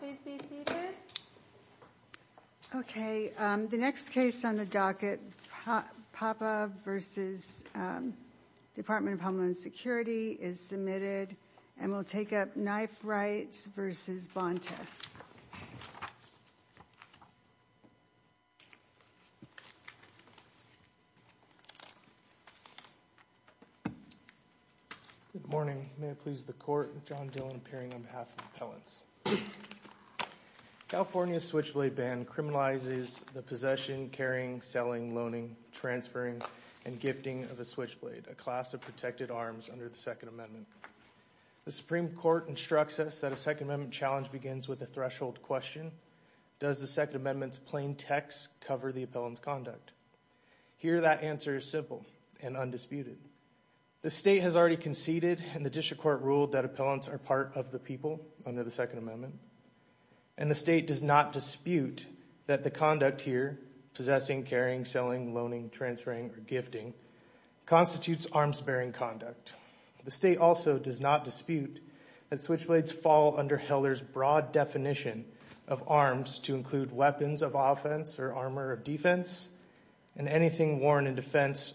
The next case on the docket, PAPA v. Department of Homeland Security, is submitted and will take up knife rights v. Bonta. Good morning, may it please the court, John Dillon appearing on behalf of Appellants. California's switchblade ban criminalizes the possession, carrying, selling, loaning, transferring, and gifting of a switchblade, a class of protected arms under the Second Amendment. The Supreme Court instructs us that a Second Amendment challenge begins with a threshold question, does the Second Amendment's plain text cover the appellant's conduct? Here that answer is simple and undisputed. The state has already conceded and the district court ruled that appellants are part of the under the Second Amendment, and the state does not dispute that the conduct here, possessing, carrying, selling, loaning, transferring, or gifting, constitutes arms-bearing conduct. The state also does not dispute that switchblades fall under Heller's broad definition of arms to include weapons of offense or armor of defense, and anything worn in defense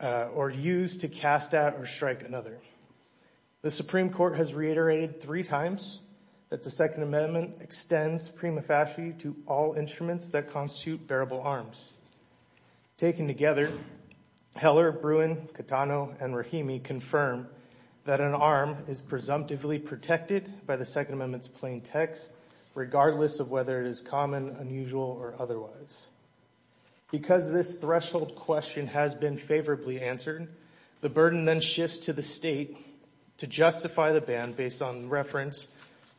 or used to cast out or strike another. The Supreme Court has reiterated three times that the Second Amendment extends prima facie to all instruments that constitute bearable arms. Taken together, Heller, Bruin, Catano, and Rahimi confirm that an arm is presumptively protected by the Second Amendment's plain text, regardless of whether it is common, unusual, or otherwise. Because this threshold question has been favorably answered, the burden then shifts to the state to justify the ban based on reference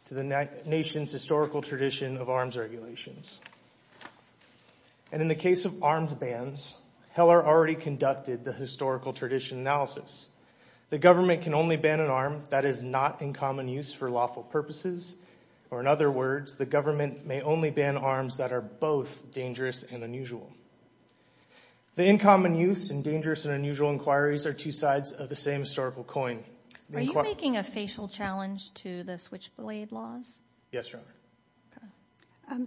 to the nation's historical tradition of arms regulations. And in the case of arms bans, Heller already conducted the historical tradition analysis. The government can only ban an arm that is not in common use for lawful purposes, or in other words, the government may only ban arms that are both dangerous and unusual. The in common use and dangerous and unusual inquiries are two sides of the same historical coin. Are you making a facial challenge to the switchblade laws? Yes, Your Honor.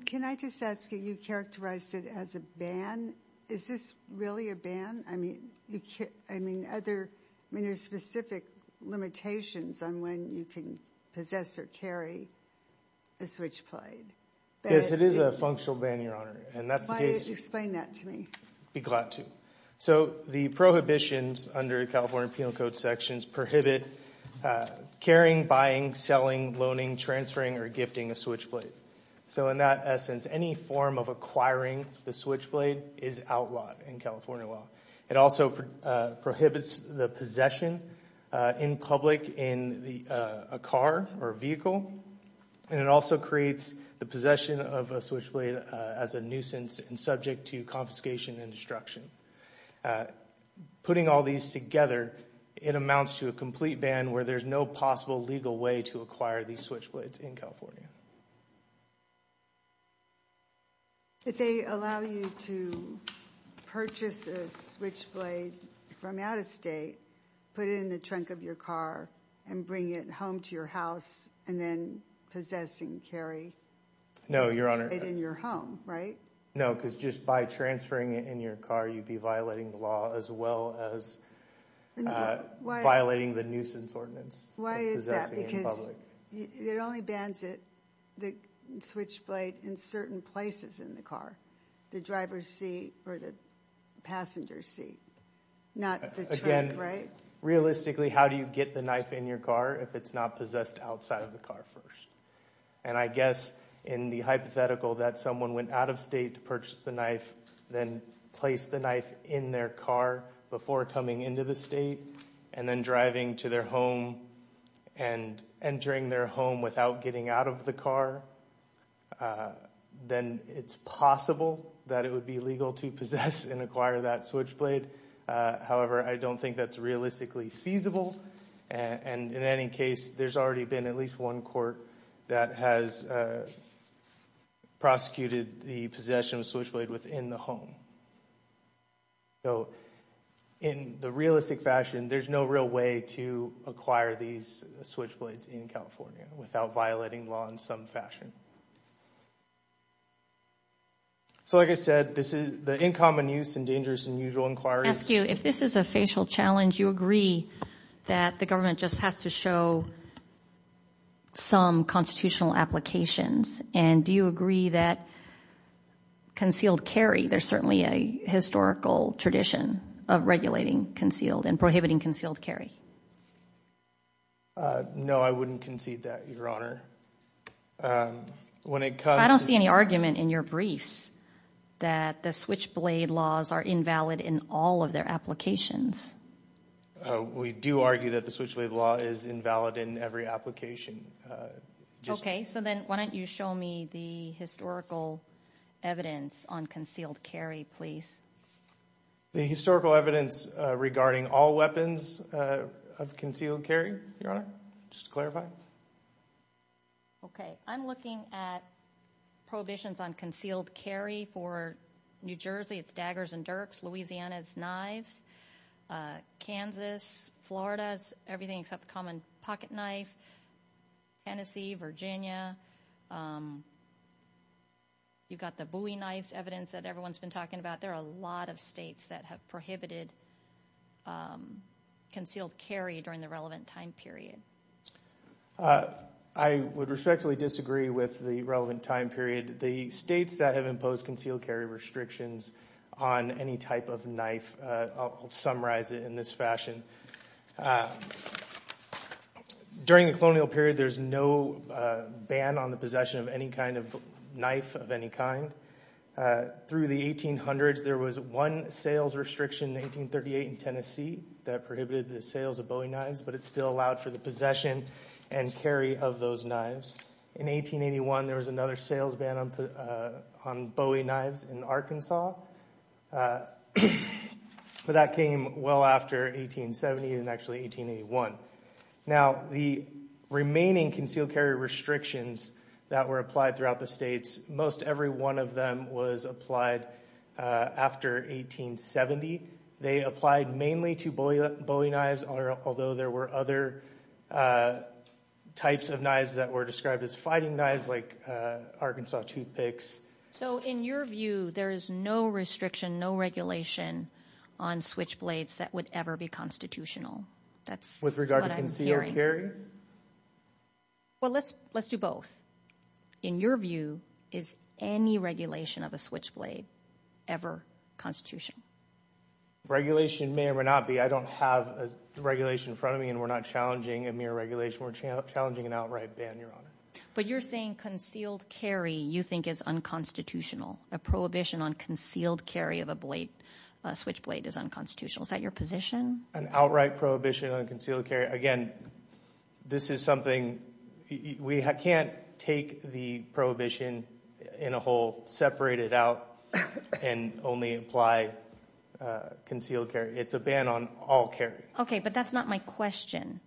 Can I just ask, you characterized it as a ban. Is this really a ban? I mean, there are specific limitations on when you can possess or carry a switchblade. Yes, it is a functional ban, Your Honor. Why don't you explain that to me? I'd be glad to. The prohibitions under the California Penal Code sections prohibit carrying, buying, selling, loaning, transferring, or gifting a switchblade. So in that essence, any form of acquiring the switchblade is outlawed in California law. It also prohibits the possession in public in a car or vehicle. And it also creates the possession of a switchblade as a nuisance and subject to confiscation and destruction. Putting all these together, it amounts to a complete ban where there's no possible legal way to acquire these switchblades in California. If they allow you to purchase a switchblade from out of state, put it in the trunk of your car, and bring it home to your house, and then possess and carry it in your home, right? No, because just by transferring it in your car, you'd be violating the law as well as violating the nuisance ordinance. Why is that? Because it only bans the switchblade in certain places in the car, the driver's seat or the passenger's seat, not the trunk, right? Realistically, how do you get the knife in your car if it's not possessed outside of the car first? And I guess in the hypothetical that someone went out of state to purchase the knife, then placed the knife in their car before coming into the state, and then driving to their home and entering their home without getting out of the car, then it's possible that it would be illegal to possess and acquire that switchblade. However, I don't think that's realistically feasible. And in any case, there's already been at least one court that has prosecuted the possession of a switchblade within the home. So in the realistic fashion, there's no real way to acquire these switchblades in California without violating law in some fashion. So like I said, this is the in common use and dangerous than usual inquiry. I ask you, if this is a facial challenge, you agree that the government just has to show some constitutional applications. And do you agree that concealed carry, there's certainly a historical tradition of regulating concealed and prohibiting concealed carry? No, I wouldn't concede that, Your Honor. I don't see any argument in your briefs that the switchblade laws are invalid in all of their applications. We do argue that the switchblade law is invalid in every application. Okay, so then why don't you show me the historical evidence on concealed carry, please. The historical evidence regarding all weapons of concealed carry, Your Honor, just to clarify. Okay, I'm looking at prohibitions on concealed carry for New Jersey. It's daggers and dirks, Louisiana's knives, Kansas, Florida's everything except the common pocket knife, Tennessee, Virginia. You've got the Bowie knives evidence that everyone's been talking about. There are a lot of states that have prohibited concealed carry during the relevant time period. I would respectfully disagree with the relevant time period. The states that have imposed concealed carry restrictions on any type of knife, I'll summarize it in this fashion. During the colonial period, there's no ban on the possession of any kind of knife of any kind. Through the 1800s, there was one sales restriction in 1838 in Tennessee that prohibited the sales of Bowie knives, but it still allowed for the possession and carry of those knives. In 1881, there was another sales ban on Bowie knives in Arkansas, but that came well after 1870 and actually 1881. Now, the remaining concealed carry restrictions that were applied throughout the states, most every one of them was applied after 1870. They applied mainly to Bowie knives, although there were other types of knives that were described as fighting knives like Arkansas toothpicks. So in your view, there is no restriction, no regulation on switchblades that would ever be constitutional? That's what I'm hearing. With regard to concealed carry? Well, let's do both. In your view, is any regulation of a switchblade ever constitutional? Regulation may or may not be. I don't have a regulation in front of me, and we're not challenging a mere regulation. We're challenging an outright ban, Your Honor. But you're saying concealed carry you think is unconstitutional? A prohibition on concealed carry of a switchblade is unconstitutional. Is that your position? An outright prohibition on concealed carry. Again, this is something we can't take the prohibition in a whole, separate it out, and only apply concealed carry. It's a ban on all carry. Okay, but that's not my question.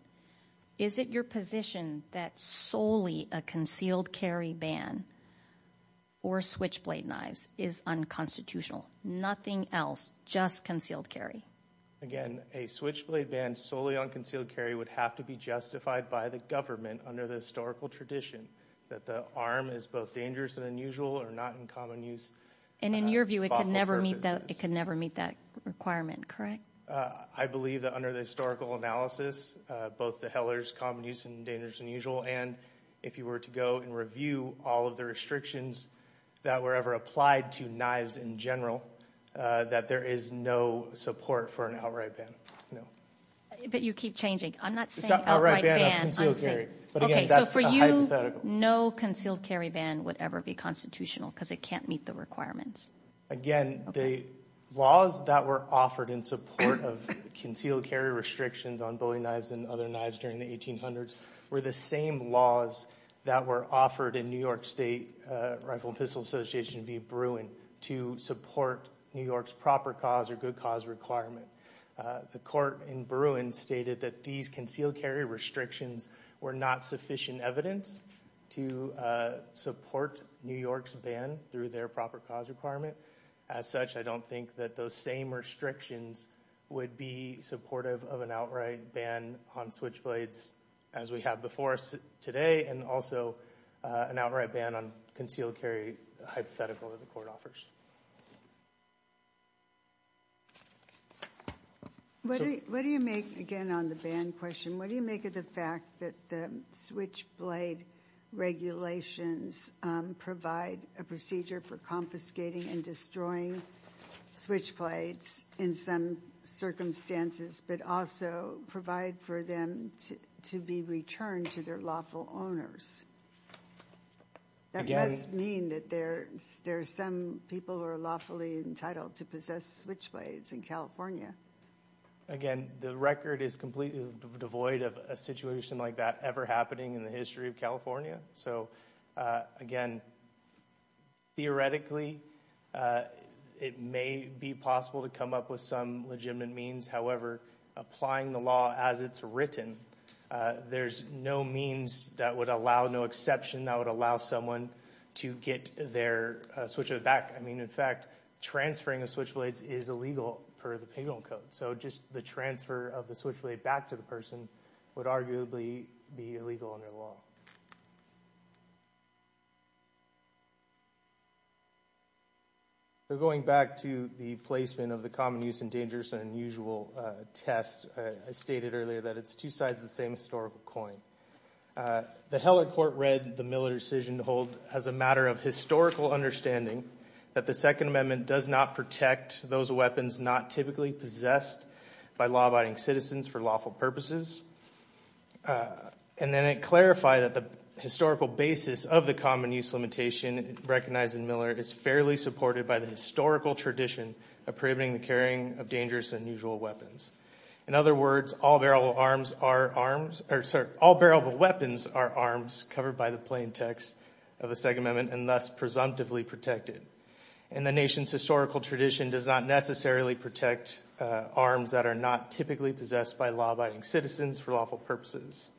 Is it your position that solely a concealed carry ban or switchblade knives is unconstitutional, nothing else, just concealed carry? Again, a switchblade ban solely on concealed carry would have to be justified by the government under the historical tradition that the arm is both dangerous and unusual or not in common use. And in your view, it could never meet that requirement, correct? I believe that under the historical analysis, both the Heller's common use and dangerous and unusual, and if you were to go and review all of the restrictions that were ever applied to knives in general, that there is no support for an outright ban, no. But you keep changing. I'm not saying outright ban. It's not an outright ban of concealed carry. But again, that's a hypothetical. Okay, so for you, no concealed carry ban would ever be constitutional because it can't meet the requirements. Again, the laws that were offered in support of concealed carry restrictions on bowing knives and other knives during the 1800s were the same laws that were offered in New York State Rifle and Pistol Association v. Bruin to support New York's proper cause or good cause requirement. The court in Bruin stated that these concealed carry restrictions were not sufficient evidence to support New York's ban through their proper cause requirement. As such, I don't think that those same restrictions would be supportive of an outright ban on switchblades as we have before us today and also an outright ban on concealed carry hypothetical that the court offers. What do you make, again on the ban question, what do you make of the fact that the switchblade regulations provide a procedure for confiscating and destroying switchblades in some circumstances but also provide for them to be returned to their lawful owners? That must mean that there are some people who are lawfully entitled to possess switchblades in California. Again, the record is completely devoid of a situation like that ever happening in the history of California. So, again, theoretically, it may be possible to come up with some legitimate means. However, applying the law as it's written, there's no means that would allow, no exception that would allow someone to get their switchblade back. I mean, in fact, transferring the switchblades is illegal per the penal code. So just the transfer of the switchblade back to the person would arguably be illegal under the law. Going back to the placement of the common use and dangerous and unusual test, I stated earlier that it's two sides of the same historical coin. The Heller Court read the Miller decision to hold as a matter of historical understanding that the Second Amendment does not protect those weapons not typically possessed by law-abiding citizens for lawful purposes. And then it clarified that the historical basis of the common use limitation recognized in Miller is fairly supported by the historical tradition of prohibiting the carrying of dangerous and unusual weapons. In other words, all bearable weapons are arms covered by the plain text of the Second Amendment and thus presumptively protected. And the nation's historical tradition does not necessarily protect arms that are not typically possessed by law-abiding citizens for lawful purposes.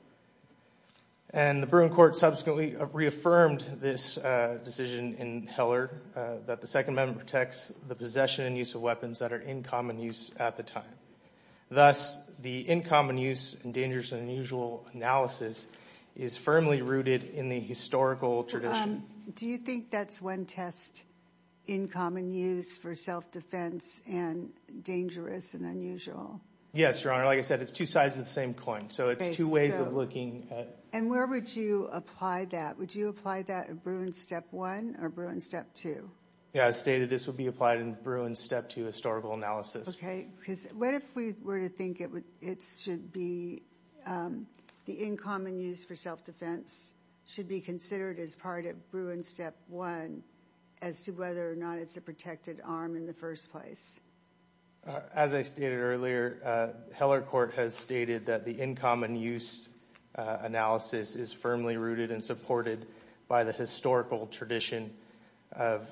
And the Bruin Court subsequently reaffirmed this decision in Heller that the Second Amendment protects the possession and use of weapons that are in common use at the time. Thus, the in common use and dangerous and unusual analysis is firmly rooted in the historical tradition. Do you think that's one test in common use for self-defense and dangerous and unusual? Yes, Your Honor. Like I said, it's two sides of the same coin. So it's two ways of looking at… And where would you apply that? Would you apply that in Bruin Step 1 or Bruin Step 2? Yeah, I stated this would be applied in Bruin Step 2 historical analysis. Okay. Because what if we were to think it should be the in common use for self-defense should be considered as part of Bruin Step 1 as to whether or not it's a protected arm in the first place? As I stated earlier, Heller Court has stated that the in common use analysis is firmly rooted and supported by the historical tradition of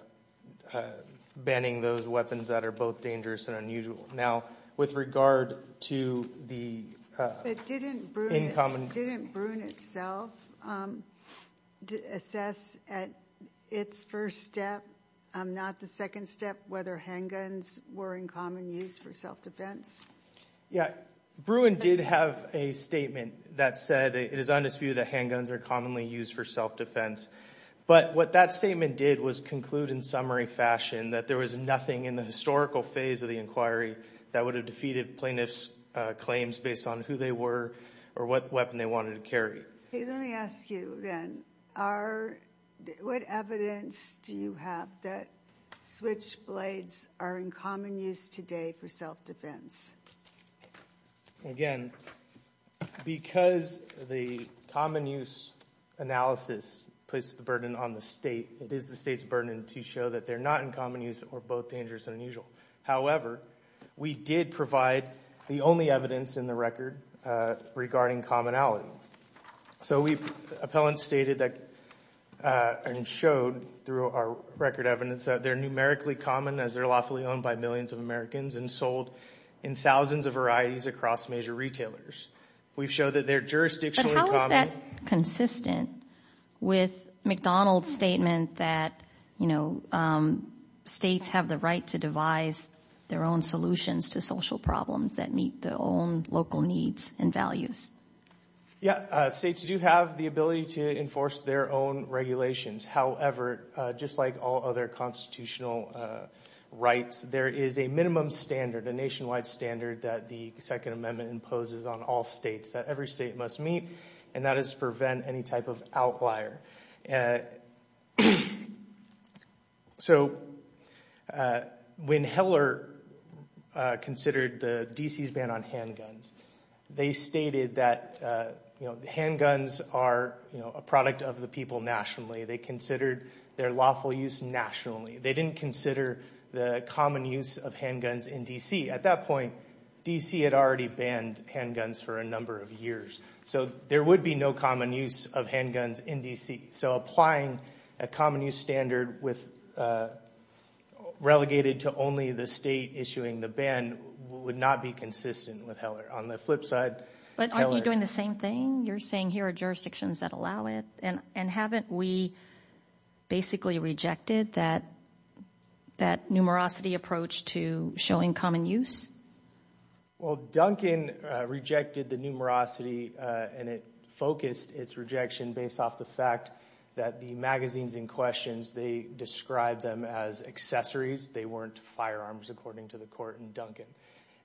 banning those weapons that are both dangerous and unusual. Now, with regard to the… But didn't Bruin itself assess at its first step, not the second step, whether handguns were in common use for self-defense? Yeah. Bruin did have a statement that said it is undisputed that handguns are commonly used for self-defense. But what that statement did was conclude in summary fashion that there was nothing in the historical phase of the inquiry that would have defeated plaintiffs' claims based on who they were or what weapon they wanted to carry. Let me ask you then. What evidence do you have that switchblades are in common use today for self-defense? Again, because the common use analysis puts the burden on the state, it is the state's burden to show that they're not in common use or both dangerous and unusual. However, we did provide the only evidence in the record regarding commonality. So appellants stated and showed through our record evidence that they're numerically common as they're lawfully owned by millions of Americans and sold in thousands of varieties across major retailers. We've showed that they're jurisdictionally common. Is that consistent with McDonald's statement that, you know, states have the right to devise their own solutions to social problems that meet their own local needs and values? Yeah. States do have the ability to enforce their own regulations. However, just like all other constitutional rights, there is a minimum standard, a nationwide standard that the Second Amendment imposes on all states that every state must meet, and that is to prevent any type of outlier. So when Heller considered D.C.'s ban on handguns, they stated that handguns are a product of the people nationally. They considered their lawful use nationally. They didn't consider the common use of handguns in D.C. At that point, D.C. had already banned handguns for a number of years. So there would be no common use of handguns in D.C. So applying a common use standard relegated to only the state issuing the ban would not be consistent with Heller. On the flip side, Heller- But aren't you doing the same thing? You're saying here are jurisdictions that allow it, and haven't we basically rejected that numerosity approach to showing common use? Well, Duncan rejected the numerosity, and it focused its rejection based off the fact that the magazines in question, they described them as accessories. They weren't firearms, according to the court in Duncan.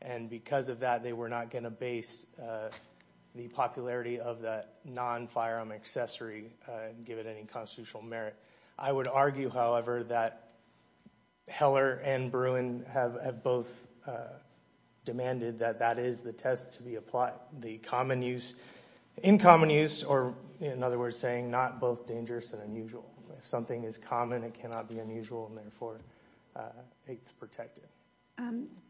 And because of that, they were not going to base the popularity of that non-firearm accessory, and give it any constitutional merit. I would argue, however, that Heller and Bruin have both demanded that that is the test to be applied. The common use-in common use, or in other words, saying not both dangerous and unusual. If something is common, it cannot be unusual, and therefore it's protected.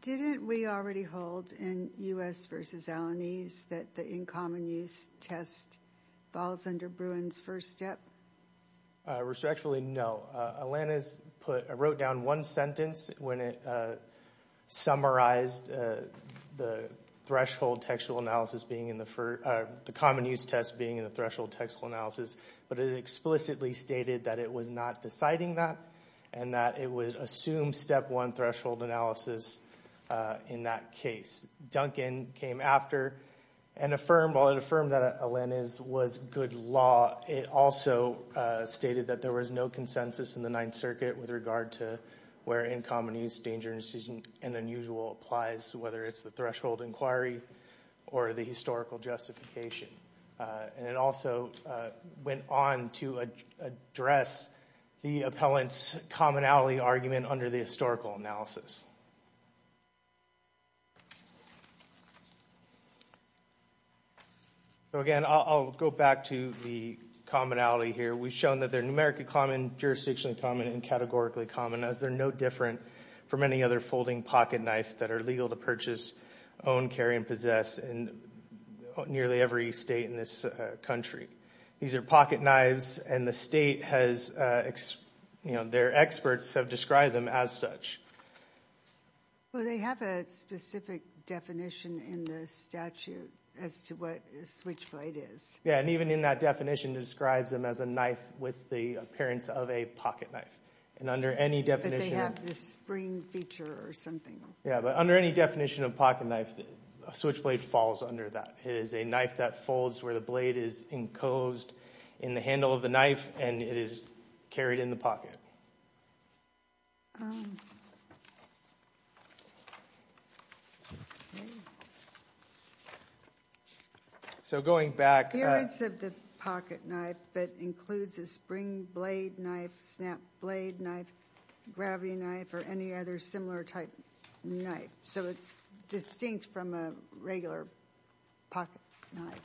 Didn't we already hold in U.S. versus Alanese that the in common use test falls under Bruin's first step? Respectfully, no. Alanese wrote down one sentence when it summarized the threshold textual analysis being in the first, the common use test being in the threshold textual analysis, but it explicitly stated that it was not deciding that, and that it would assume step one threshold analysis in that case. Duncan came after and affirmed, while it affirmed that Alanese was good law, it also stated that there was no consensus in the Ninth Circuit with regard to where in common use, dangerous and unusual applies, whether it's the threshold inquiry or the historical justification. And it also went on to address the appellant's commonality argument under the historical analysis. So again, I'll go back to the commonality here. We've shown that they're numerically common, jurisdictionally common, and categorically common, as they're no different from any other folding pocket knife that are legal to purchase, own, carry, and possess in nearly every state in this country. These are pocket knives, and the state has, you know, their experts have described them as such. Well, they have a specific definition in the statute as to what a switchblade is. Yeah, and even in that definition, it describes them as a knife with the appearance of a pocket knife. And under any definition... But they have this spring feature or something. Yeah, but under any definition of pocket knife, a switchblade falls under that. It is a knife that folds where the blade is encosed in the handle of the knife, and it is carried in the pocket. So going back... It includes a pocket knife, but includes a spring blade knife, snap blade knife, gravity knife, or any other similar type knife. So it's distinct from a regular pocket knife.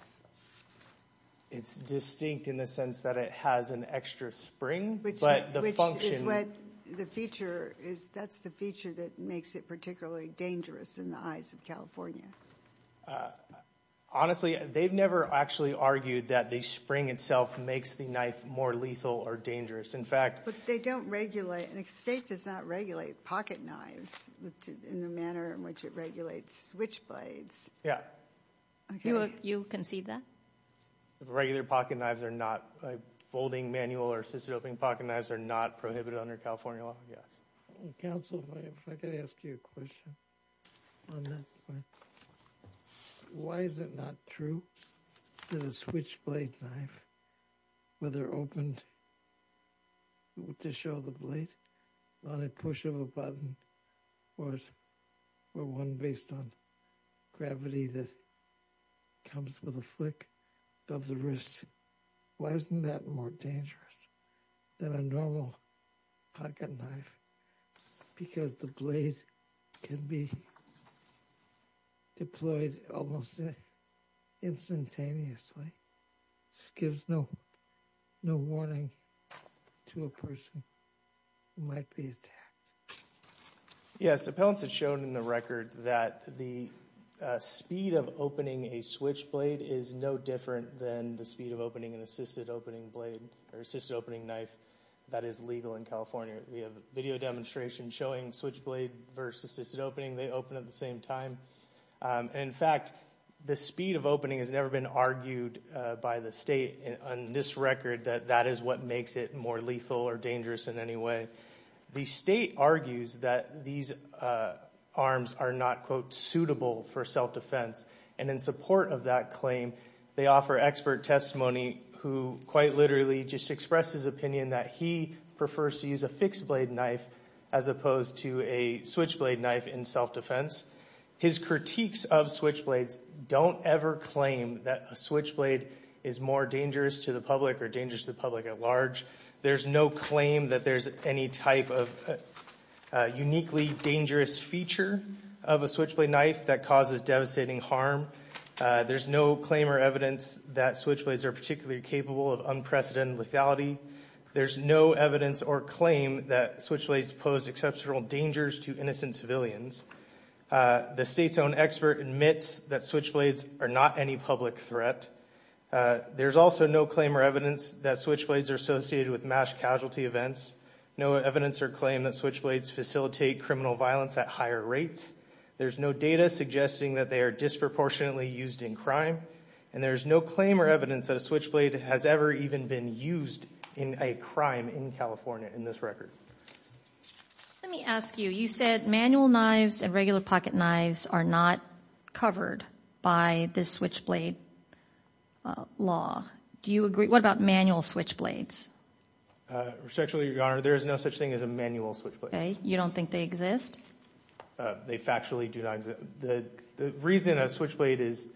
It's distinct in the sense that it has an extra spring, but the function... Which is what the feature is. That's the feature that makes it particularly dangerous in the eyes of California. Honestly, they've never actually argued that the spring itself makes the knife more lethal or dangerous. In fact... But they don't regulate... The state does not regulate pocket knives in the manner in which it regulates switchblades. Yeah. You concede that? Regular pocket knives are not... Folding manual or assisted opening pocket knives are not prohibited under California law, yes. Counsel, if I could ask you a question on that point. Why is it not true that a switchblade knife, whether opened to show the blade on a push of a button... Or one based on gravity that comes with a flick of the wrist... Why isn't that more dangerous than a normal pocket knife? Because the blade can be deployed almost instantaneously. It gives no warning to a person who might be attacked. Yes. Appellants have shown in the record that the speed of opening a switchblade is no different... Than the speed of opening an assisted opening blade or assisted opening knife that is legal in California. We have a video demonstration showing switchblade versus assisted opening. They open at the same time. In fact, the speed of opening has never been argued by the state on this record... That that is what makes it more lethal or dangerous in any way. The state argues that these arms are not, quote, suitable for self-defense. And in support of that claim, they offer expert testimony... Who quite literally just expressed his opinion that he prefers to use a fixed blade knife... As opposed to a switchblade knife in self-defense. His critiques of switchblades don't ever claim that a switchblade is more dangerous to the public or dangerous to the public at large. There's no claim that there's any type of uniquely dangerous feature of a switchblade knife that causes devastating harm. There's no claim or evidence that switchblades are particularly capable of unprecedented lethality. There's no evidence or claim that switchblades pose exceptional dangers to innocent civilians. The state's own expert admits that switchblades are not any public threat. There's also no claim or evidence that switchblades are associated with mass casualty events. No evidence or claim that switchblades facilitate criminal violence at higher rates. There's no data suggesting that they are disproportionately used in crime. And there's no claim or evidence that a switchblade has ever even been used in a crime in California in this record. Let me ask you. You said manual knives and regular pocket knives are not covered by this switchblade law. Do you agree? What about manual switchblades? Respectfully, Your Honor, there is no such thing as a manual switchblade. Okay. You don't think they exist? They factually do not exist. The reason a switchblade is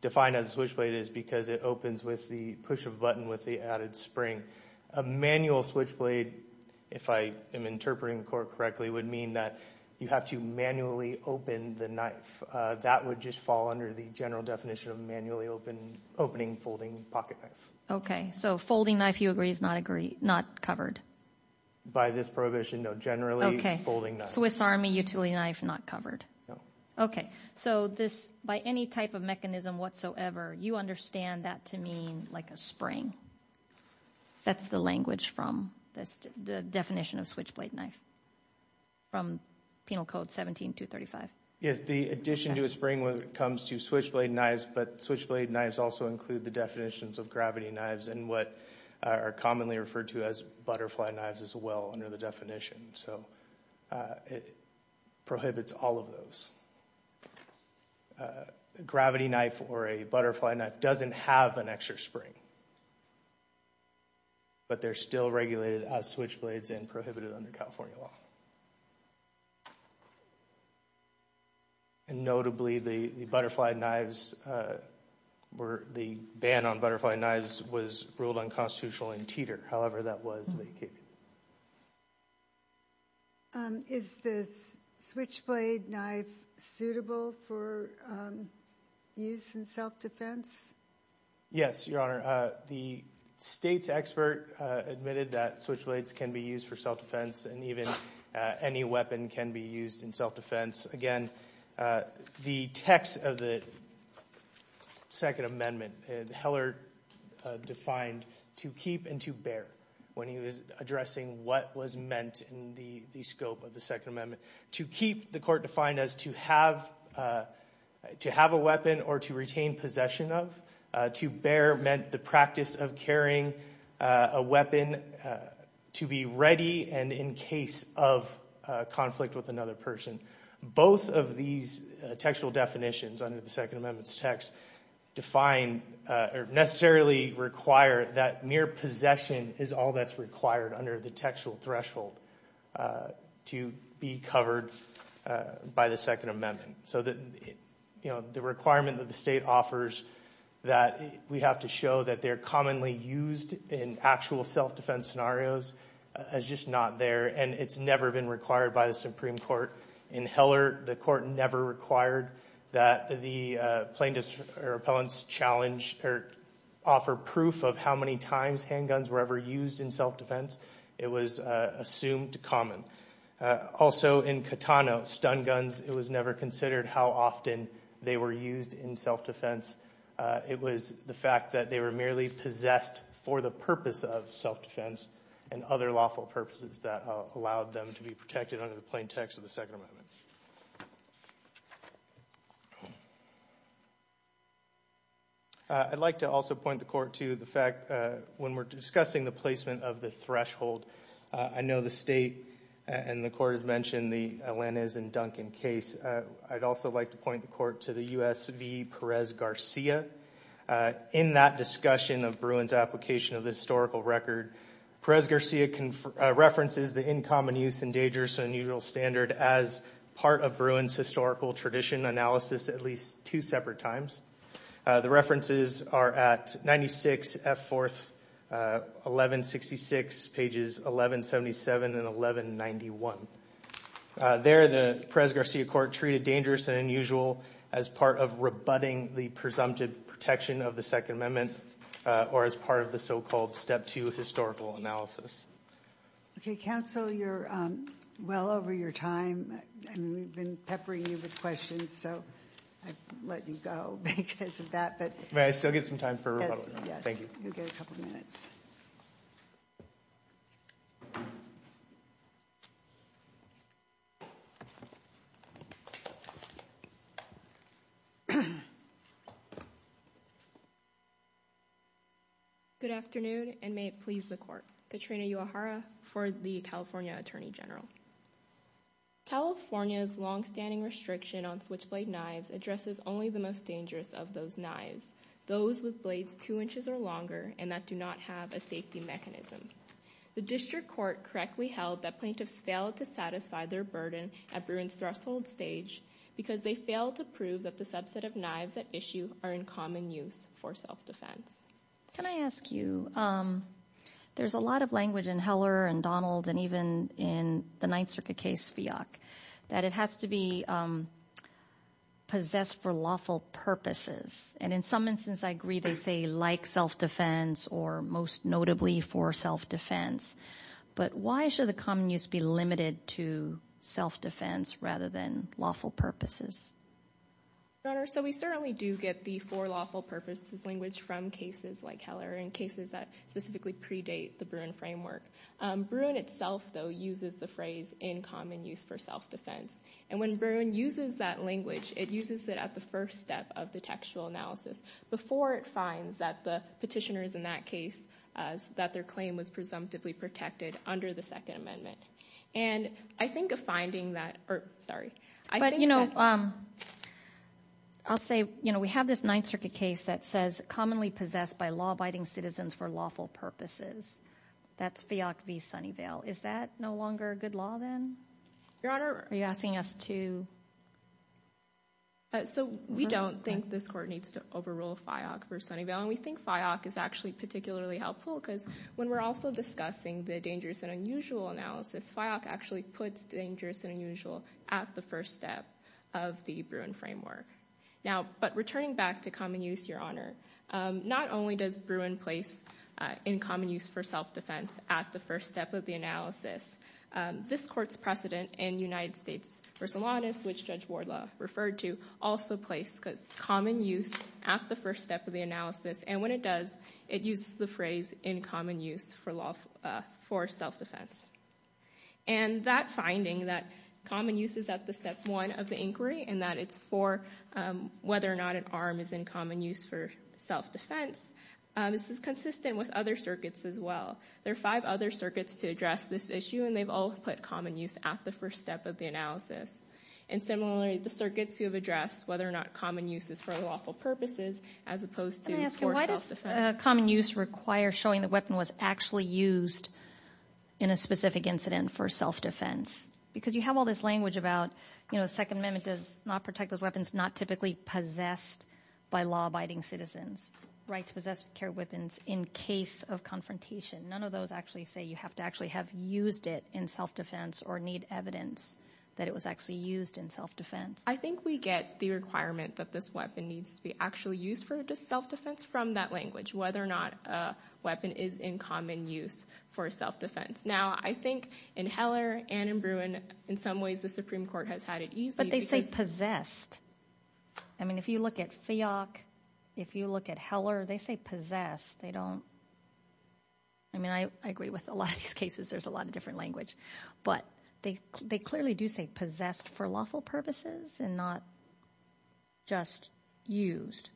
defined as a switchblade is because it opens with the push of a button with the added spring. A manual switchblade, if I am interpreting the court correctly, would mean that you have to manually open the knife. That would just fall under the general definition of manually opening, folding pocket knife. Okay. So folding knife, you agree, is not covered? By this prohibition, no. Generally, folding knife. Swiss Army utility knife, not covered? No. Okay. So by any type of mechanism whatsoever, you understand that to mean like a spring. That's the language from the definition of switchblade knife from Penal Code 17-235. Yes, the addition to a spring when it comes to switchblade knives, but switchblade knives also include the definitions of gravity knives and what are commonly referred to as butterfly knives as well under the definition. So it prohibits all of those. A gravity knife or a butterfly knife doesn't have an extra spring, but they're still regulated as switchblades and prohibited under California law. And notably, the butterfly knives, the ban on butterfly knives was ruled unconstitutional in Teeter. However, that was vacated. Is this switchblade knife suitable for use in self-defense? Yes, Your Honor. The state's expert admitted that switchblades can be used for self-defense and even any weapon can be used in self-defense. Again, the text of the Second Amendment, Heller defined to keep and to bear when he was addressing what was meant in the scope of the Second Amendment. To keep, the court defined as to have a weapon or to retain possession of. To bear meant the practice of carrying a weapon to be ready and in case of conflict with another person. Both of these textual definitions under the Second Amendment's text define or necessarily require that mere possession is all that's required under the textual threshold to be covered by the Second Amendment. The requirement that the state offers that we have to show that they're commonly used in actual self-defense scenarios is just not there and it's never been required by the Supreme Court. In Heller, the court never required that the plaintiff's or appellant's challenge offer proof of how many times handguns were ever used in self-defense. It was assumed common. Also in Catano, stun guns, it was never considered how often they were used in self-defense. It was the fact that they were merely possessed for the purpose of self-defense and other lawful purposes that allowed them to be protected under the plain text of the Second Amendment. I'd like to also point the court to the fact when we're discussing the placement of the threshold, I know the state and the court has mentioned the Alaniz and Duncan case. I'd also like to point the court to the U.S. v. Perez-Garcia. In that discussion of Bruin's application of the historical record, Perez-Garcia references the in common use and dangerous and unusual standard as part of Bruin's historical tradition analysis at least two separate times. The references are at 96 F. 4th, 1166, pages 1177 and 1191. There, the Perez-Garcia court treated dangerous and unusual as part of rebutting the presumptive protection of the Second Amendment or as part of the so-called step two historical analysis. Okay, counsel, you're well over your time. We've been peppering you with questions, so I've let you go because of that. May I still get some time for a rebuttal? Yes, you get a couple of minutes. Good afternoon and may it please the court. Katrina Uehara for the California Attorney General. California's longstanding restriction on switchblade knives addresses only the most dangerous of those knives, those with blades two inches or longer and that do not have a safety mechanism. The district court correctly held that plaintiffs failed to satisfy their burden at Bruin's threshold stage because they failed to prove that the subset of knives at issue are in common use for self-defense. Can I ask you, there's a lot of language in Heller and Donald and even in the Ninth Circuit case FIOC that it has to be possessed for lawful purposes. And in some instances I agree they say like self-defense or most notably for self-defense, but why should the common use be limited to self-defense rather than lawful purposes? Your Honor, so we certainly do get the for lawful purposes language from cases like Heller and cases that specifically predate the Bruin framework. Bruin itself though uses the phrase in common use for self-defense. And when Bruin uses that language, it uses it at the first step of the textual analysis before it finds that the petitioners in that case, that their claim was presumptively protected under the Second Amendment. And I think a finding that, or sorry. But you know, I'll say, you know, we have this Ninth Circuit case that says commonly possessed by law-abiding citizens for lawful purposes. That's FIOC v. Sunnyvale. Is that no longer a good law then? Your Honor. Are you asking us to? So we don't think this court needs to overrule FIOC versus Sunnyvale. And we think FIOC is actually particularly helpful because when we're also discussing the dangerous and unusual analysis, FIOC actually puts dangerous and unusual at the first step of the Bruin framework. Now, but returning back to common use, Your Honor, not only does Bruin place in common use for self-defense at the first step of the analysis, this court's precedent in United States v. Alanis, which Judge Wardlaw referred to, also placed common use at the first step of the analysis. And when it does, it uses the phrase in common use for self-defense. And that finding that common use is at the step one of the inquiry and that it's for whether or not an arm is in common use for self-defense, this is consistent with other circuits as well. There are five other circuits to address this issue, and they've all put common use at the first step of the analysis. And similarly, the circuits who have addressed whether or not common use is for lawful purposes as opposed to for self-defense. Let me ask you, why does common use require showing the weapon was actually used in a specific incident for self-defense? Because you have all this language about, you know, the Second Amendment does not protect those weapons not typically possessed by law-abiding citizens, right to possess and carry weapons in case of confrontation. None of those actually say you have to actually have used it in self-defense or need evidence that it was actually used in self-defense. I think we get the requirement that this weapon needs to be actually used for self-defense from that language, whether or not a weapon is in common use for self-defense. Now, I think in Heller and in Bruin, in some ways, the Supreme Court has had it easy. But they say possessed. I mean, if you look at FIOC, if you look at Heller, they say possessed. They don't – I mean, I agree with a lot of these cases. There's a lot of different language. But they clearly do say possessed for lawful purposes and not just used.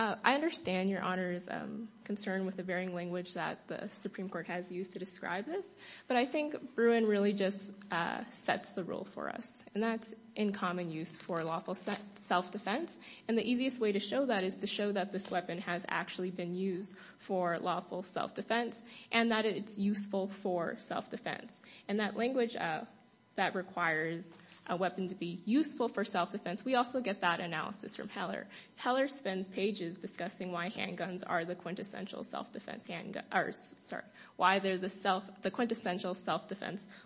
I understand Your Honor's concern with the varying language that the Supreme Court has used to describe this. But I think Bruin really just sets the rule for us, and that's in common use for lawful self-defense. And the easiest way to show that is to show that this weapon has actually been used for lawful self-defense and that it's useful for self-defense. And that language that requires a weapon to be useful for self-defense, we also get that analysis from Heller. Heller spends pages discussing why handguns are the quintessential self-defense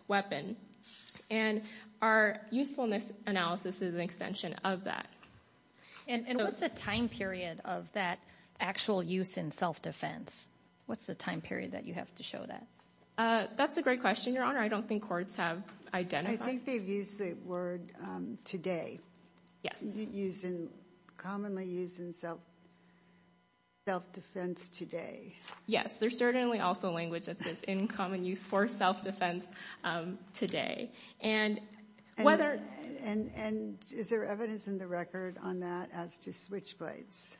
weapon. And our usefulness analysis is an extension of that. And what's the time period of that actual use in self-defense? What's the time period that you have to show that? That's a great question, Your Honor. I don't think courts have identified. I think they've used the word today. Commonly used in self-defense today. Yes. There's certainly also language that says in common use for self-defense today. And is there evidence in the record on that as to switchblades?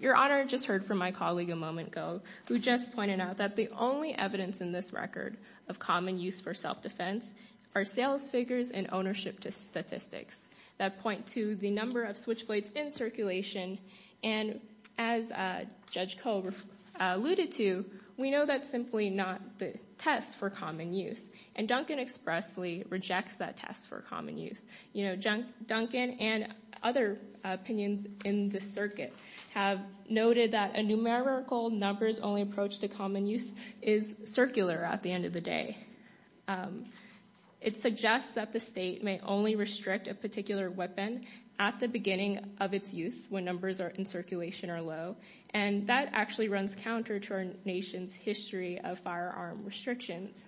Your Honor, I just heard from my colleague a moment ago, who just pointed out that the only evidence in this record of common use for self-defense are sales figures and ownership statistics that point to the number of switchblades in circulation. And as Judge Cole alluded to, we know that's simply not the test for common use. And Duncan expressly rejects that test for common use. Duncan and other opinions in the circuit have noted that a numerical numbers only approach to common use is circular at the end of the day. It suggests that the state may only restrict a particular weapon at the beginning of its use when numbers in circulation are low. And that actually runs counter to our nation's history of firearm restrictions.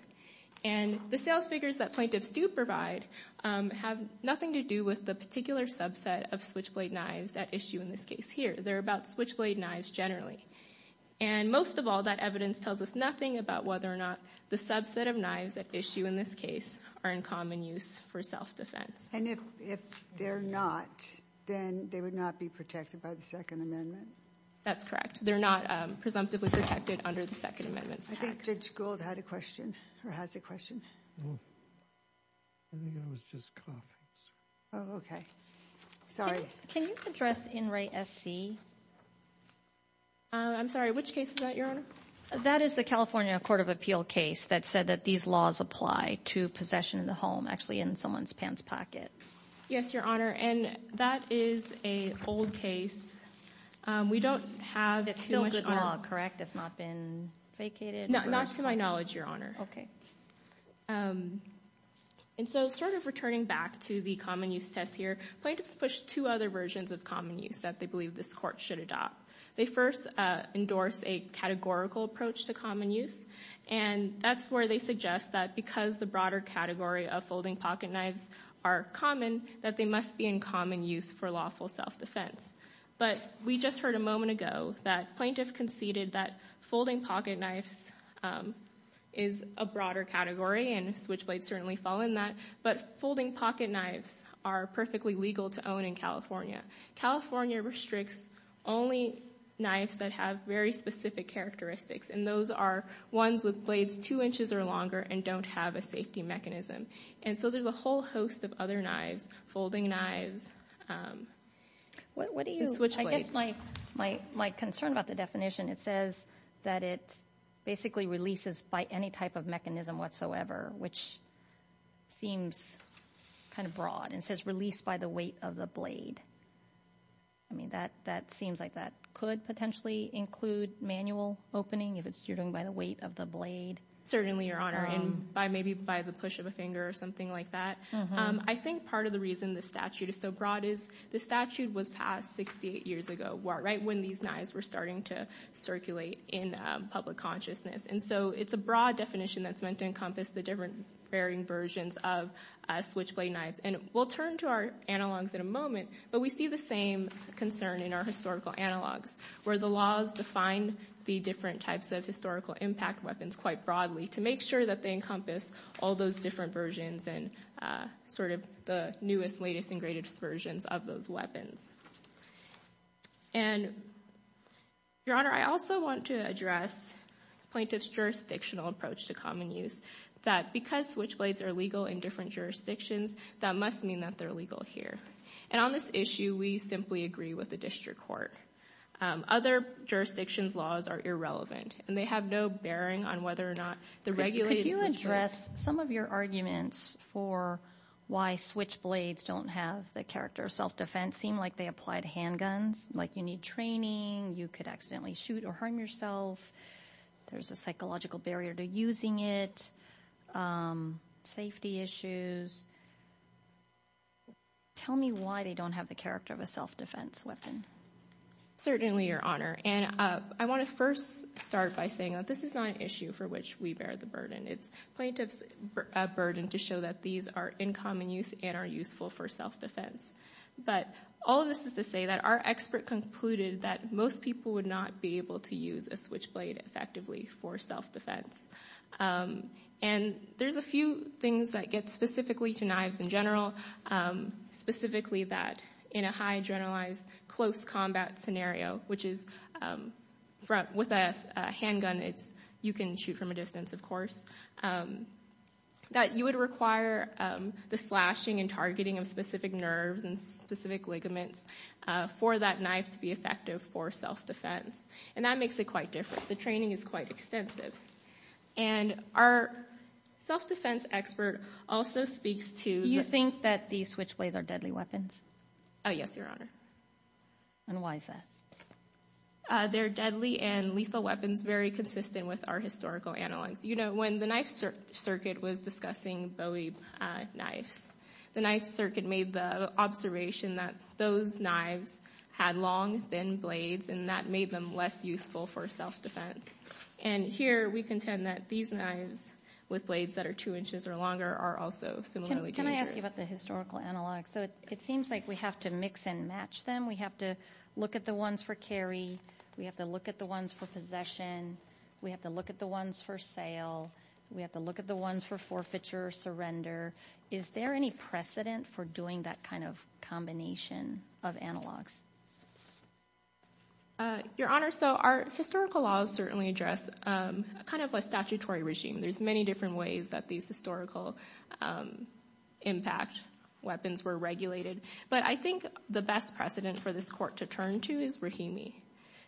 And the sales figures that plaintiffs do provide have nothing to do with the particular subset of switchblade knives at issue in this case here. They're about switchblade knives generally. And most of all, that evidence tells us nothing about whether or not the subset of knives at issue in this case are in common use for self-defense. And if they're not, then they would not be protected by the Second Amendment? That's correct. They're not presumptively protected under the Second Amendment. I think Judge Gould had a question, or has a question. I think I was just coughing. Oh, okay. Sorry. Can you address In Re SC? I'm sorry, which case is that, Your Honor? That is the California Court of Appeal case that said that these laws apply to possession of the home, actually in someone's pants pocket. Yes, Your Honor, and that is a old case. We don't have too much on it. That's still good law, correct? It's not been vacated? Not to my knowledge, Your Honor. Okay. And so sort of returning back to the common use test here, plaintiffs push two other versions of common use that they believe this Court should adopt. They first endorse a categorical approach to common use, and that's where they suggest that because the broader category of folding pocket knives are common, that they must be in common use for lawful self-defense. But we just heard a moment ago that plaintiff conceded that folding pocket knives is a broader category, and switchblades certainly fall in that, but folding pocket knives are perfectly legal to own in California. California restricts only knives that have very specific characteristics, and those are ones with blades two inches or longer and don't have a safety mechanism. And so there's a whole host of other knives, folding knives, switchblades. I guess my concern about the definition, it says that it basically releases by any type of mechanism whatsoever, which seems kind of broad. It says released by the weight of the blade. I mean, that seems like that could potentially include manual opening, if you're doing it by the weight of the blade. Certainly, Your Honor, and maybe by the push of a finger or something like that. I think part of the reason the statute is so broad is the statute was passed 68 years ago, right when these knives were starting to circulate in public consciousness. And so it's a broad definition that's meant to encompass the different varying versions of switchblade knives. And we'll turn to our analogs in a moment, but we see the same concern in our historical analogs, where the laws define the different types of historical impact weapons quite broadly to make sure that they encompass all those different versions and sort of the newest, latest, and greatest versions of those weapons. And, Your Honor, I also want to address plaintiff's jurisdictional approach to common use, that because switchblades are legal in different jurisdictions, that must mean that they're legal here. And on this issue, we simply agree with the district court. Other jurisdictions' laws are irrelevant, and they have no bearing on whether or not the regulated situation- Could you address some of your arguments for why switchblades don't have the character of self-defense, seem like they apply to handguns, like you need training, you could accidentally shoot or harm yourself, there's a psychological barrier to using it, safety issues. Tell me why they don't have the character of a self-defense weapon. Certainly, Your Honor. And I want to first start by saying that this is not an issue for which we bear the burden. It's plaintiff's burden to show that these are in common use and are useful for self-defense. But all of this is to say that our expert concluded that most people would not be able to use a switchblade effectively for self-defense. And there's a few things that get specifically to knives in general, specifically that in a high generalized close combat scenario, which is with a handgun, you can shoot from a distance, of course, that you would require the slashing and targeting of specific nerves and specific ligaments for that knife to be effective for self-defense. And that makes it quite different. The training is quite extensive. And our self-defense expert also speaks to... Do you think that the switchblades are deadly weapons? Oh, yes, Your Honor. And why is that? They're deadly and lethal weapons very consistent with our historical analyze. You know, when the Knife Circuit was discussing Bowie knives, the Knife Circuit made the observation that those knives had long, thin blades and that made them less useful for self-defense. And here we contend that these knives with blades that are 2 inches or longer are also similarly dangerous. Can I ask you about the historical analogs? So it seems like we have to mix and match them. We have to look at the ones for carry. We have to look at the ones for possession. We have to look at the ones for sale. We have to look at the ones for forfeiture, surrender. Is there any precedent for doing that kind of combination of analogs? Your Honor, so our historical laws certainly address kind of a statutory regime. There's many different ways that these historical impact weapons were regulated. But I think the best precedent for this court to turn to is Rahimi.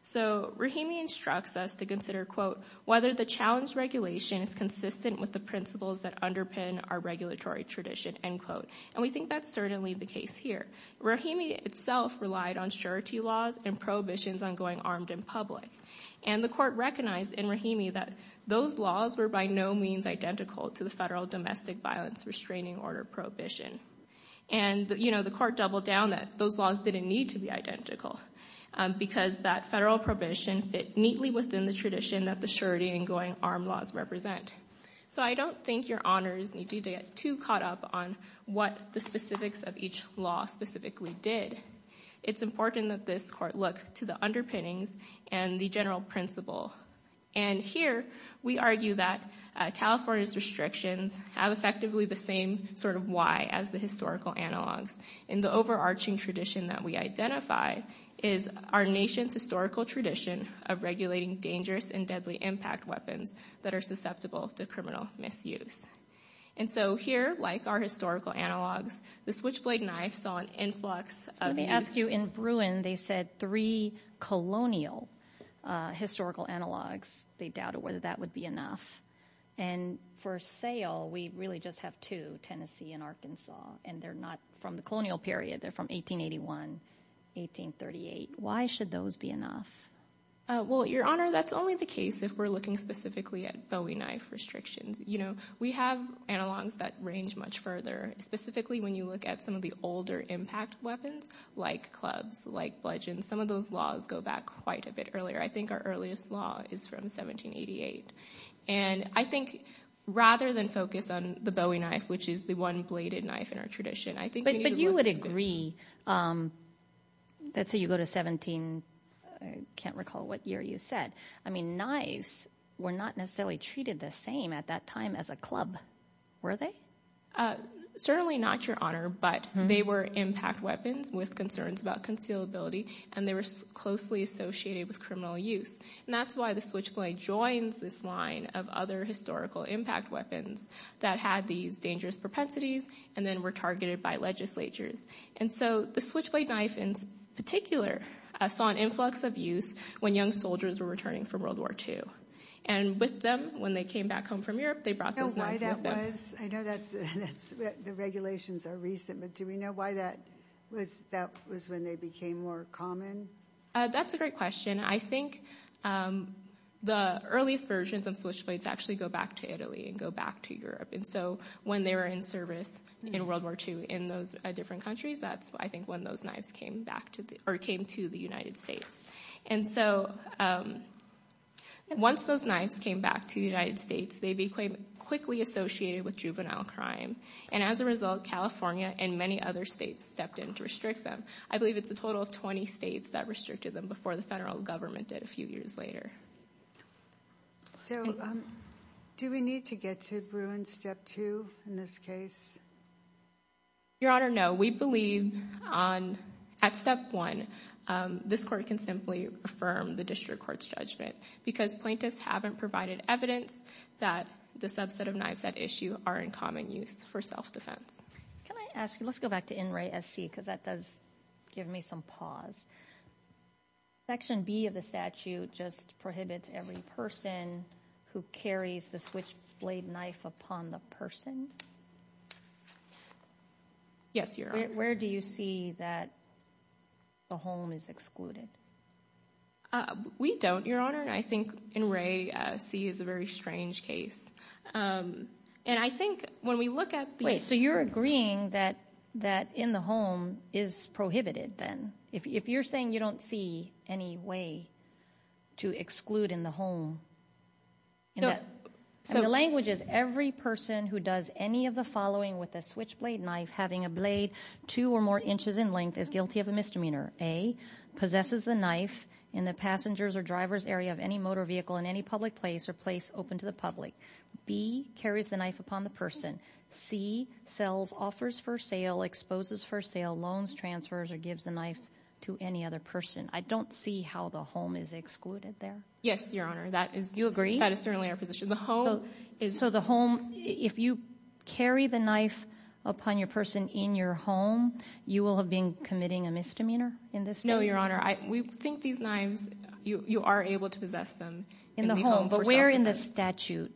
So Rahimi instructs us to consider, quote, and is consistent with the principles that underpin our regulatory tradition, end quote. And we think that's certainly the case here. Rahimi itself relied on surety laws and prohibitions on going armed in public. And the court recognized in Rahimi that those laws were by no means identical to the federal domestic violence restraining order prohibition. And, you know, the court doubled down that those laws didn't need to be identical because that federal prohibition fit neatly within the tradition that the surety and going armed laws represent. So I don't think your Honors need to get too caught up on what the specifics of each law specifically did. It's important that this court look to the underpinnings and the general principle. And here we argue that California's restrictions have effectively the same sort of why as the historical analogs. And the overarching tradition that we identify is our nation's historical tradition of regulating dangerous and deadly impact weapons that are susceptible to criminal misuse. And so here, like our historical analogs, the switchblade knife saw an influx of these. Let me ask you, in Bruin they said three colonial historical analogs. They doubted whether that would be enough. And for sale, we really just have two, Tennessee and Arkansas. And they're not from the colonial period. They're from 1881, 1838. Why should those be enough? Well, your Honor, that's only the case if we're looking specifically at bowie knife restrictions. You know, we have analogs that range much further, specifically when you look at some of the older impact weapons like clubs, like bludgeon. Some of those laws go back quite a bit earlier. I think our earliest law is from 1788. And I think rather than focus on the bowie knife, which is the one bladed knife in our tradition. But you would agree, let's say you go to 17, I can't recall what year you said. I mean knives were not necessarily treated the same at that time as a club, were they? Certainly not, Your Honor, but they were impact weapons with concerns about concealability, and they were closely associated with criminal use. And that's why the switchblade joins this line of other historical impact weapons that had these dangerous propensities and then were targeted by legislatures. And so the switchblade knife in particular saw an influx of use when young soldiers were returning from World War II. And with them, when they came back home from Europe, they brought those knives with them. Do you know why that was? I know the regulations are recent, but do we know why that was when they became more common? That's a great question. I think the earliest versions of switchblades actually go back to Italy and go back to Europe. And so when they were in service in World War II in those different countries, that's I think when those knives came to the United States. And so once those knives came back to the United States, they became quickly associated with juvenile crime. And as a result, California and many other states stepped in to restrict them. I believe it's a total of 20 states that restricted them before the federal government did a few years later. So do we need to get to Bruin Step 2 in this case? Your Honor, no. We believe at Step 1, this court can simply affirm the district court's judgment because plaintiffs haven't provided evidence that the subset of knives at issue are in common use for self-defense. Can I ask you, let's go back to NRA SC because that does give me some pause. Section B of the statute just prohibits every person who carries the switchblade knife upon the person. Yes, Your Honor. Where do you see that the home is excluded? We don't, Your Honor. I think NRA C is a very strange case. And I think when we look at these- Wait, so you're agreeing that in the home is prohibited then? If you're saying you don't see any way to exclude in the home- No, so- The language is every person who does any of the following with a switchblade knife having a blade two or more inches in length is guilty of a misdemeanor. A, possesses the knife in the passenger's or driver's area of any motor vehicle in any public place or place open to the public. B, carries the knife upon the person. C, sells, offers for sale, exposes for sale, loans, transfers, or gives the knife to any other person. I don't see how the home is excluded there. Yes, Your Honor. You agree? That is certainly our position. So the home, if you carry the knife upon your person in your home, you will have been committing a misdemeanor in this case? No, Your Honor. We think these knives, you are able to possess them. In the home, but where in the statute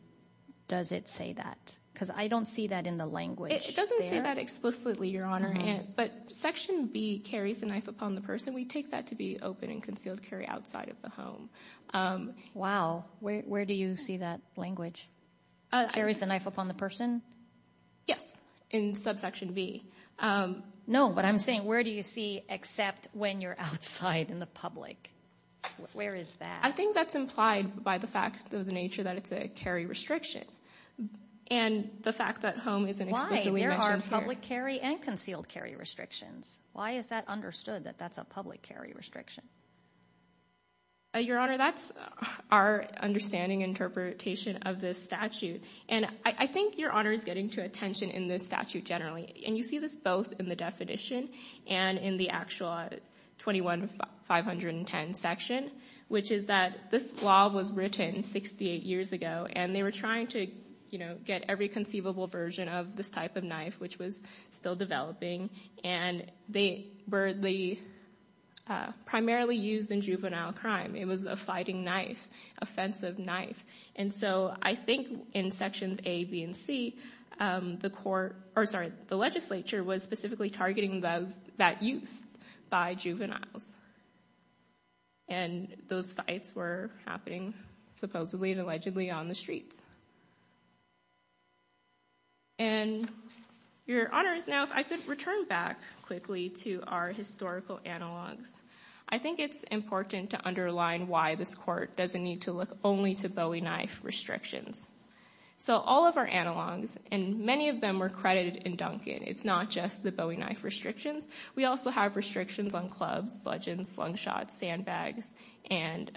does it say that? Because I don't see that in the language. It doesn't say that explicitly, Your Honor. But Section B, carries the knife upon the person, we take that to be open and concealed carry outside of the home. Wow, where do you see that language? Carries the knife upon the person? Yes, in subsection B. No, but I'm saying where do you see except when you're outside in the public? Where is that? I think that's implied by the fact of the nature that it's a carry restriction, and the fact that home isn't explicitly mentioned here. There are public carry and concealed carry restrictions. Why is that understood, that that's a public carry restriction? Your Honor, that's our understanding interpretation of this statute, and I think Your Honor is getting to attention in this statute generally, and you see this both in the definition and in the actual 21-510 section, which is that this law was written 68 years ago, and they were trying to get every conceivable version of this type of knife, which was still developing, and they were primarily used in juvenile crime. It was a fighting knife, offensive knife. And so I think in Sections A, B, and C, the legislature was specifically targeting that use by juveniles, and those fights were happening supposedly and allegedly on the streets. And Your Honor, now if I could return back quickly to our historical analogs. I think it's important to underline why this court doesn't need to look only to Bowie knife restrictions. So all of our analogs, and many of them were credited in Duncan. It's not just the Bowie knife restrictions. We also have restrictions on clubs, bludgeons, slingshots, sandbags, and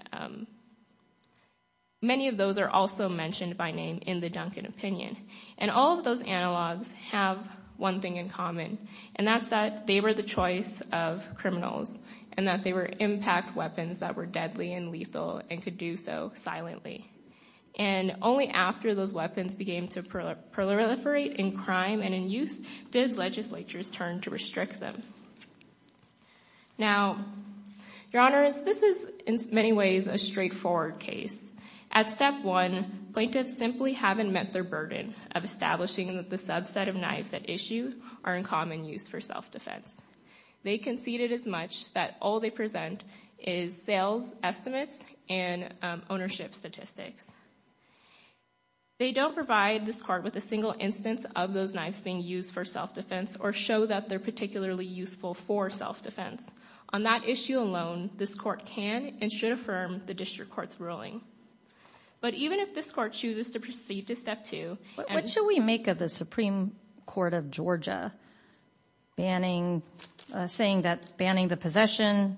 many of those are also mentioned by name in the Duncan opinion. And all of those analogs have one thing in common, and that's that they were the choice of criminals, and that they were impact weapons that were deadly and lethal and could do so silently. And only after those weapons began to proliferate in crime and in use did legislatures turn to restrict them. Now, Your Honors, this is in many ways a straightforward case. At Step 1, plaintiffs simply haven't met their burden of establishing that the subset of knives at issue are in common use for self-defense. They conceded as much that all they present is sales estimates and ownership statistics. They don't provide this court with a single instance of those knives being used for self-defense or show that they're particularly useful for self-defense. On that issue alone, this court can and should affirm the district court's ruling. But even if this court chooses to proceed to Step 2... What should we make of the Supreme Court of Georgia saying that banning the possession,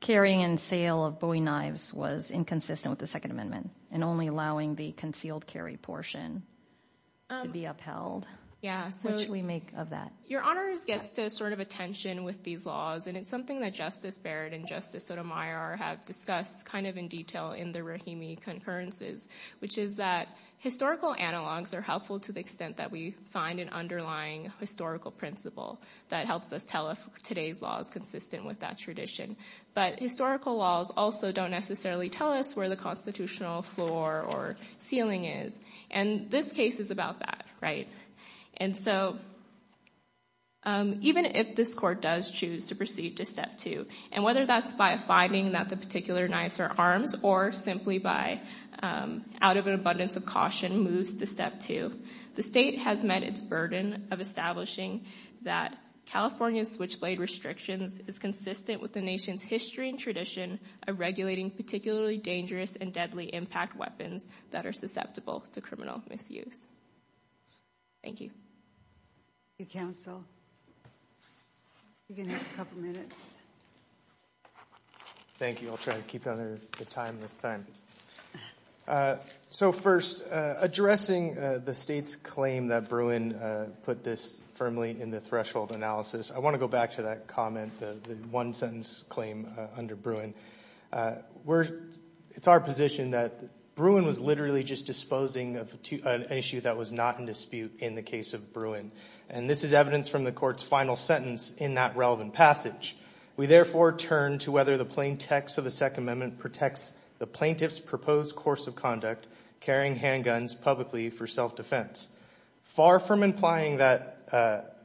carrying, and sale of Bowie knives was inconsistent with the Second Amendment and only allowing the concealed carry portion to be upheld? What should we make of that? Your Honors gets to sort of attention with these laws, and it's something that Justice Barrett and Justice Sotomayor have discussed kind of in detail in the Rahimi concurrences, which is that historical analogs are helpful to the extent that we find an underlying historical principle that helps us tell if today's law is consistent with that tradition. But historical laws also don't necessarily tell us where the constitutional floor or ceiling is. And this case is about that, right? And so even if this court does choose to proceed to Step 2, and whether that's by finding that the particular knives are arms or simply by out of an abundance of caution moves to Step 2, the state has met its burden of establishing that California's switchblade restrictions is consistent with the nation's history and tradition of regulating particularly dangerous and deadly impact weapons that are susceptible to criminal misuse. Thank you. Thank you, counsel. You can have a couple minutes. Thank you. I'll try to keep under the time this time. So first, addressing the state's claim that Bruin put this firmly in the threshold analysis, I want to go back to that comment, the one-sentence claim under Bruin. It's our position that Bruin was literally just disposing of an issue that was not in dispute in the case of Bruin, and this is evidence from the court's final sentence in that relevant passage. We therefore turn to whether the plain text of the Second Amendment protects the plaintiff's proposed course of conduct, carrying handguns publicly for self-defense. Far from implying that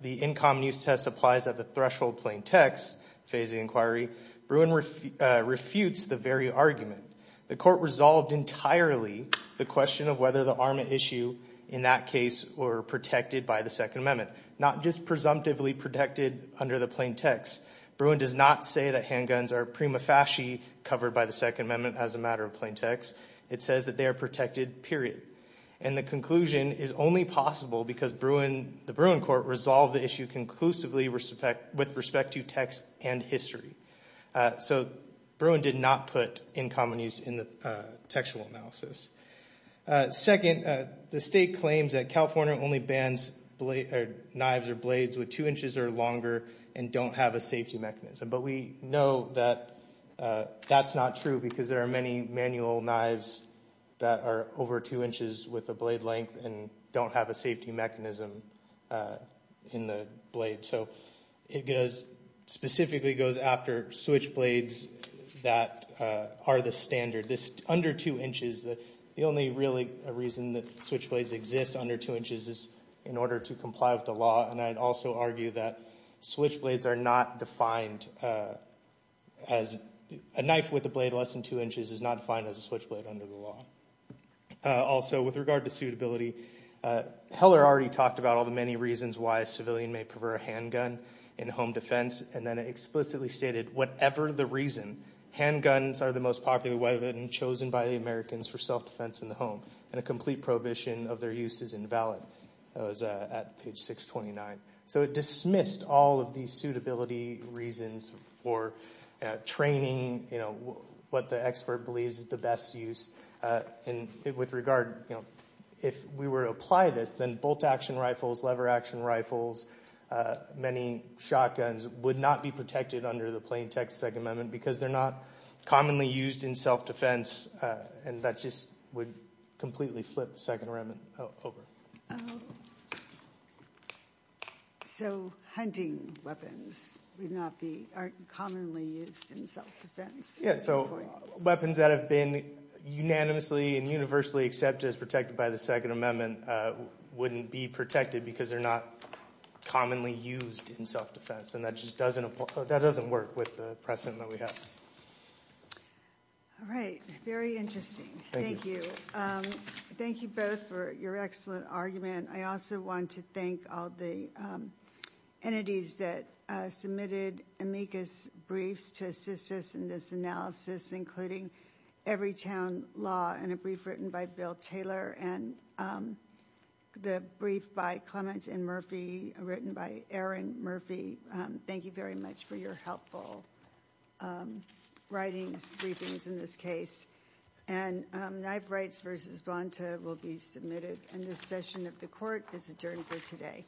the in common use test applies at the threshold plain text phase of the inquiry, Bruin refutes the very argument. The court resolved entirely the question of whether the arma issue in that case were protected by the Second Amendment, not just presumptively protected under the plain text. Bruin does not say that handguns are prima facie covered by the Second Amendment as a matter of plain text. It says that they are protected, period. And the conclusion is only possible because the Bruin court resolved the issue conclusively with respect to text and history. So Bruin did not put in common use in the textual analysis. Second, the state claims that California only bans knives or blades with two inches or longer and don't have a safety mechanism. But we know that that's not true because there are many manual knives that are over two inches with a blade length and don't have a safety mechanism in the blade. So it specifically goes after switch blades that are the standard. Under two inches, the only really reason that switch blades exist under two inches is in order to comply with the law, and I'd also argue that switch blades are not defined as a knife with a blade less than two inches is not defined as a switch blade under the law. Also, with regard to suitability, Heller already talked about all the many reasons why a civilian may prefer a handgun in home defense, and then explicitly stated, whatever the reason, handguns are the most popular weapon chosen by the Americans for self-defense in the home, and a complete prohibition of their use is invalid. That was at page 629. So it dismissed all of these suitability reasons for training, what the expert believes is the best use. With regard, if we were to apply this, then bolt-action rifles, lever-action rifles, many shotguns would not be protected under the plain text of the Second Amendment because they're not commonly used in self-defense, and that just would completely flip the Second Amendment over. So hunting weapons would not be commonly used in self-defense? Yeah, so weapons that have been unanimously and universally accepted as protected by the Second Amendment wouldn't be protected because they're not commonly used in self-defense, and that just doesn't work with the precedent that we have. All right, very interesting. Thank you. Thank you both for your excellent argument. I also want to thank all the entities that submitted amicus briefs to assist us in this analysis, including Everytown Law, and a brief written by Bill Taylor, and the brief by Clement and Murphy, written by Erin Murphy. Thank you very much for your helpful writings, briefings in this case. And Knife Rights v. Bonta will be submitted, and this session of the Court is adjourned for today.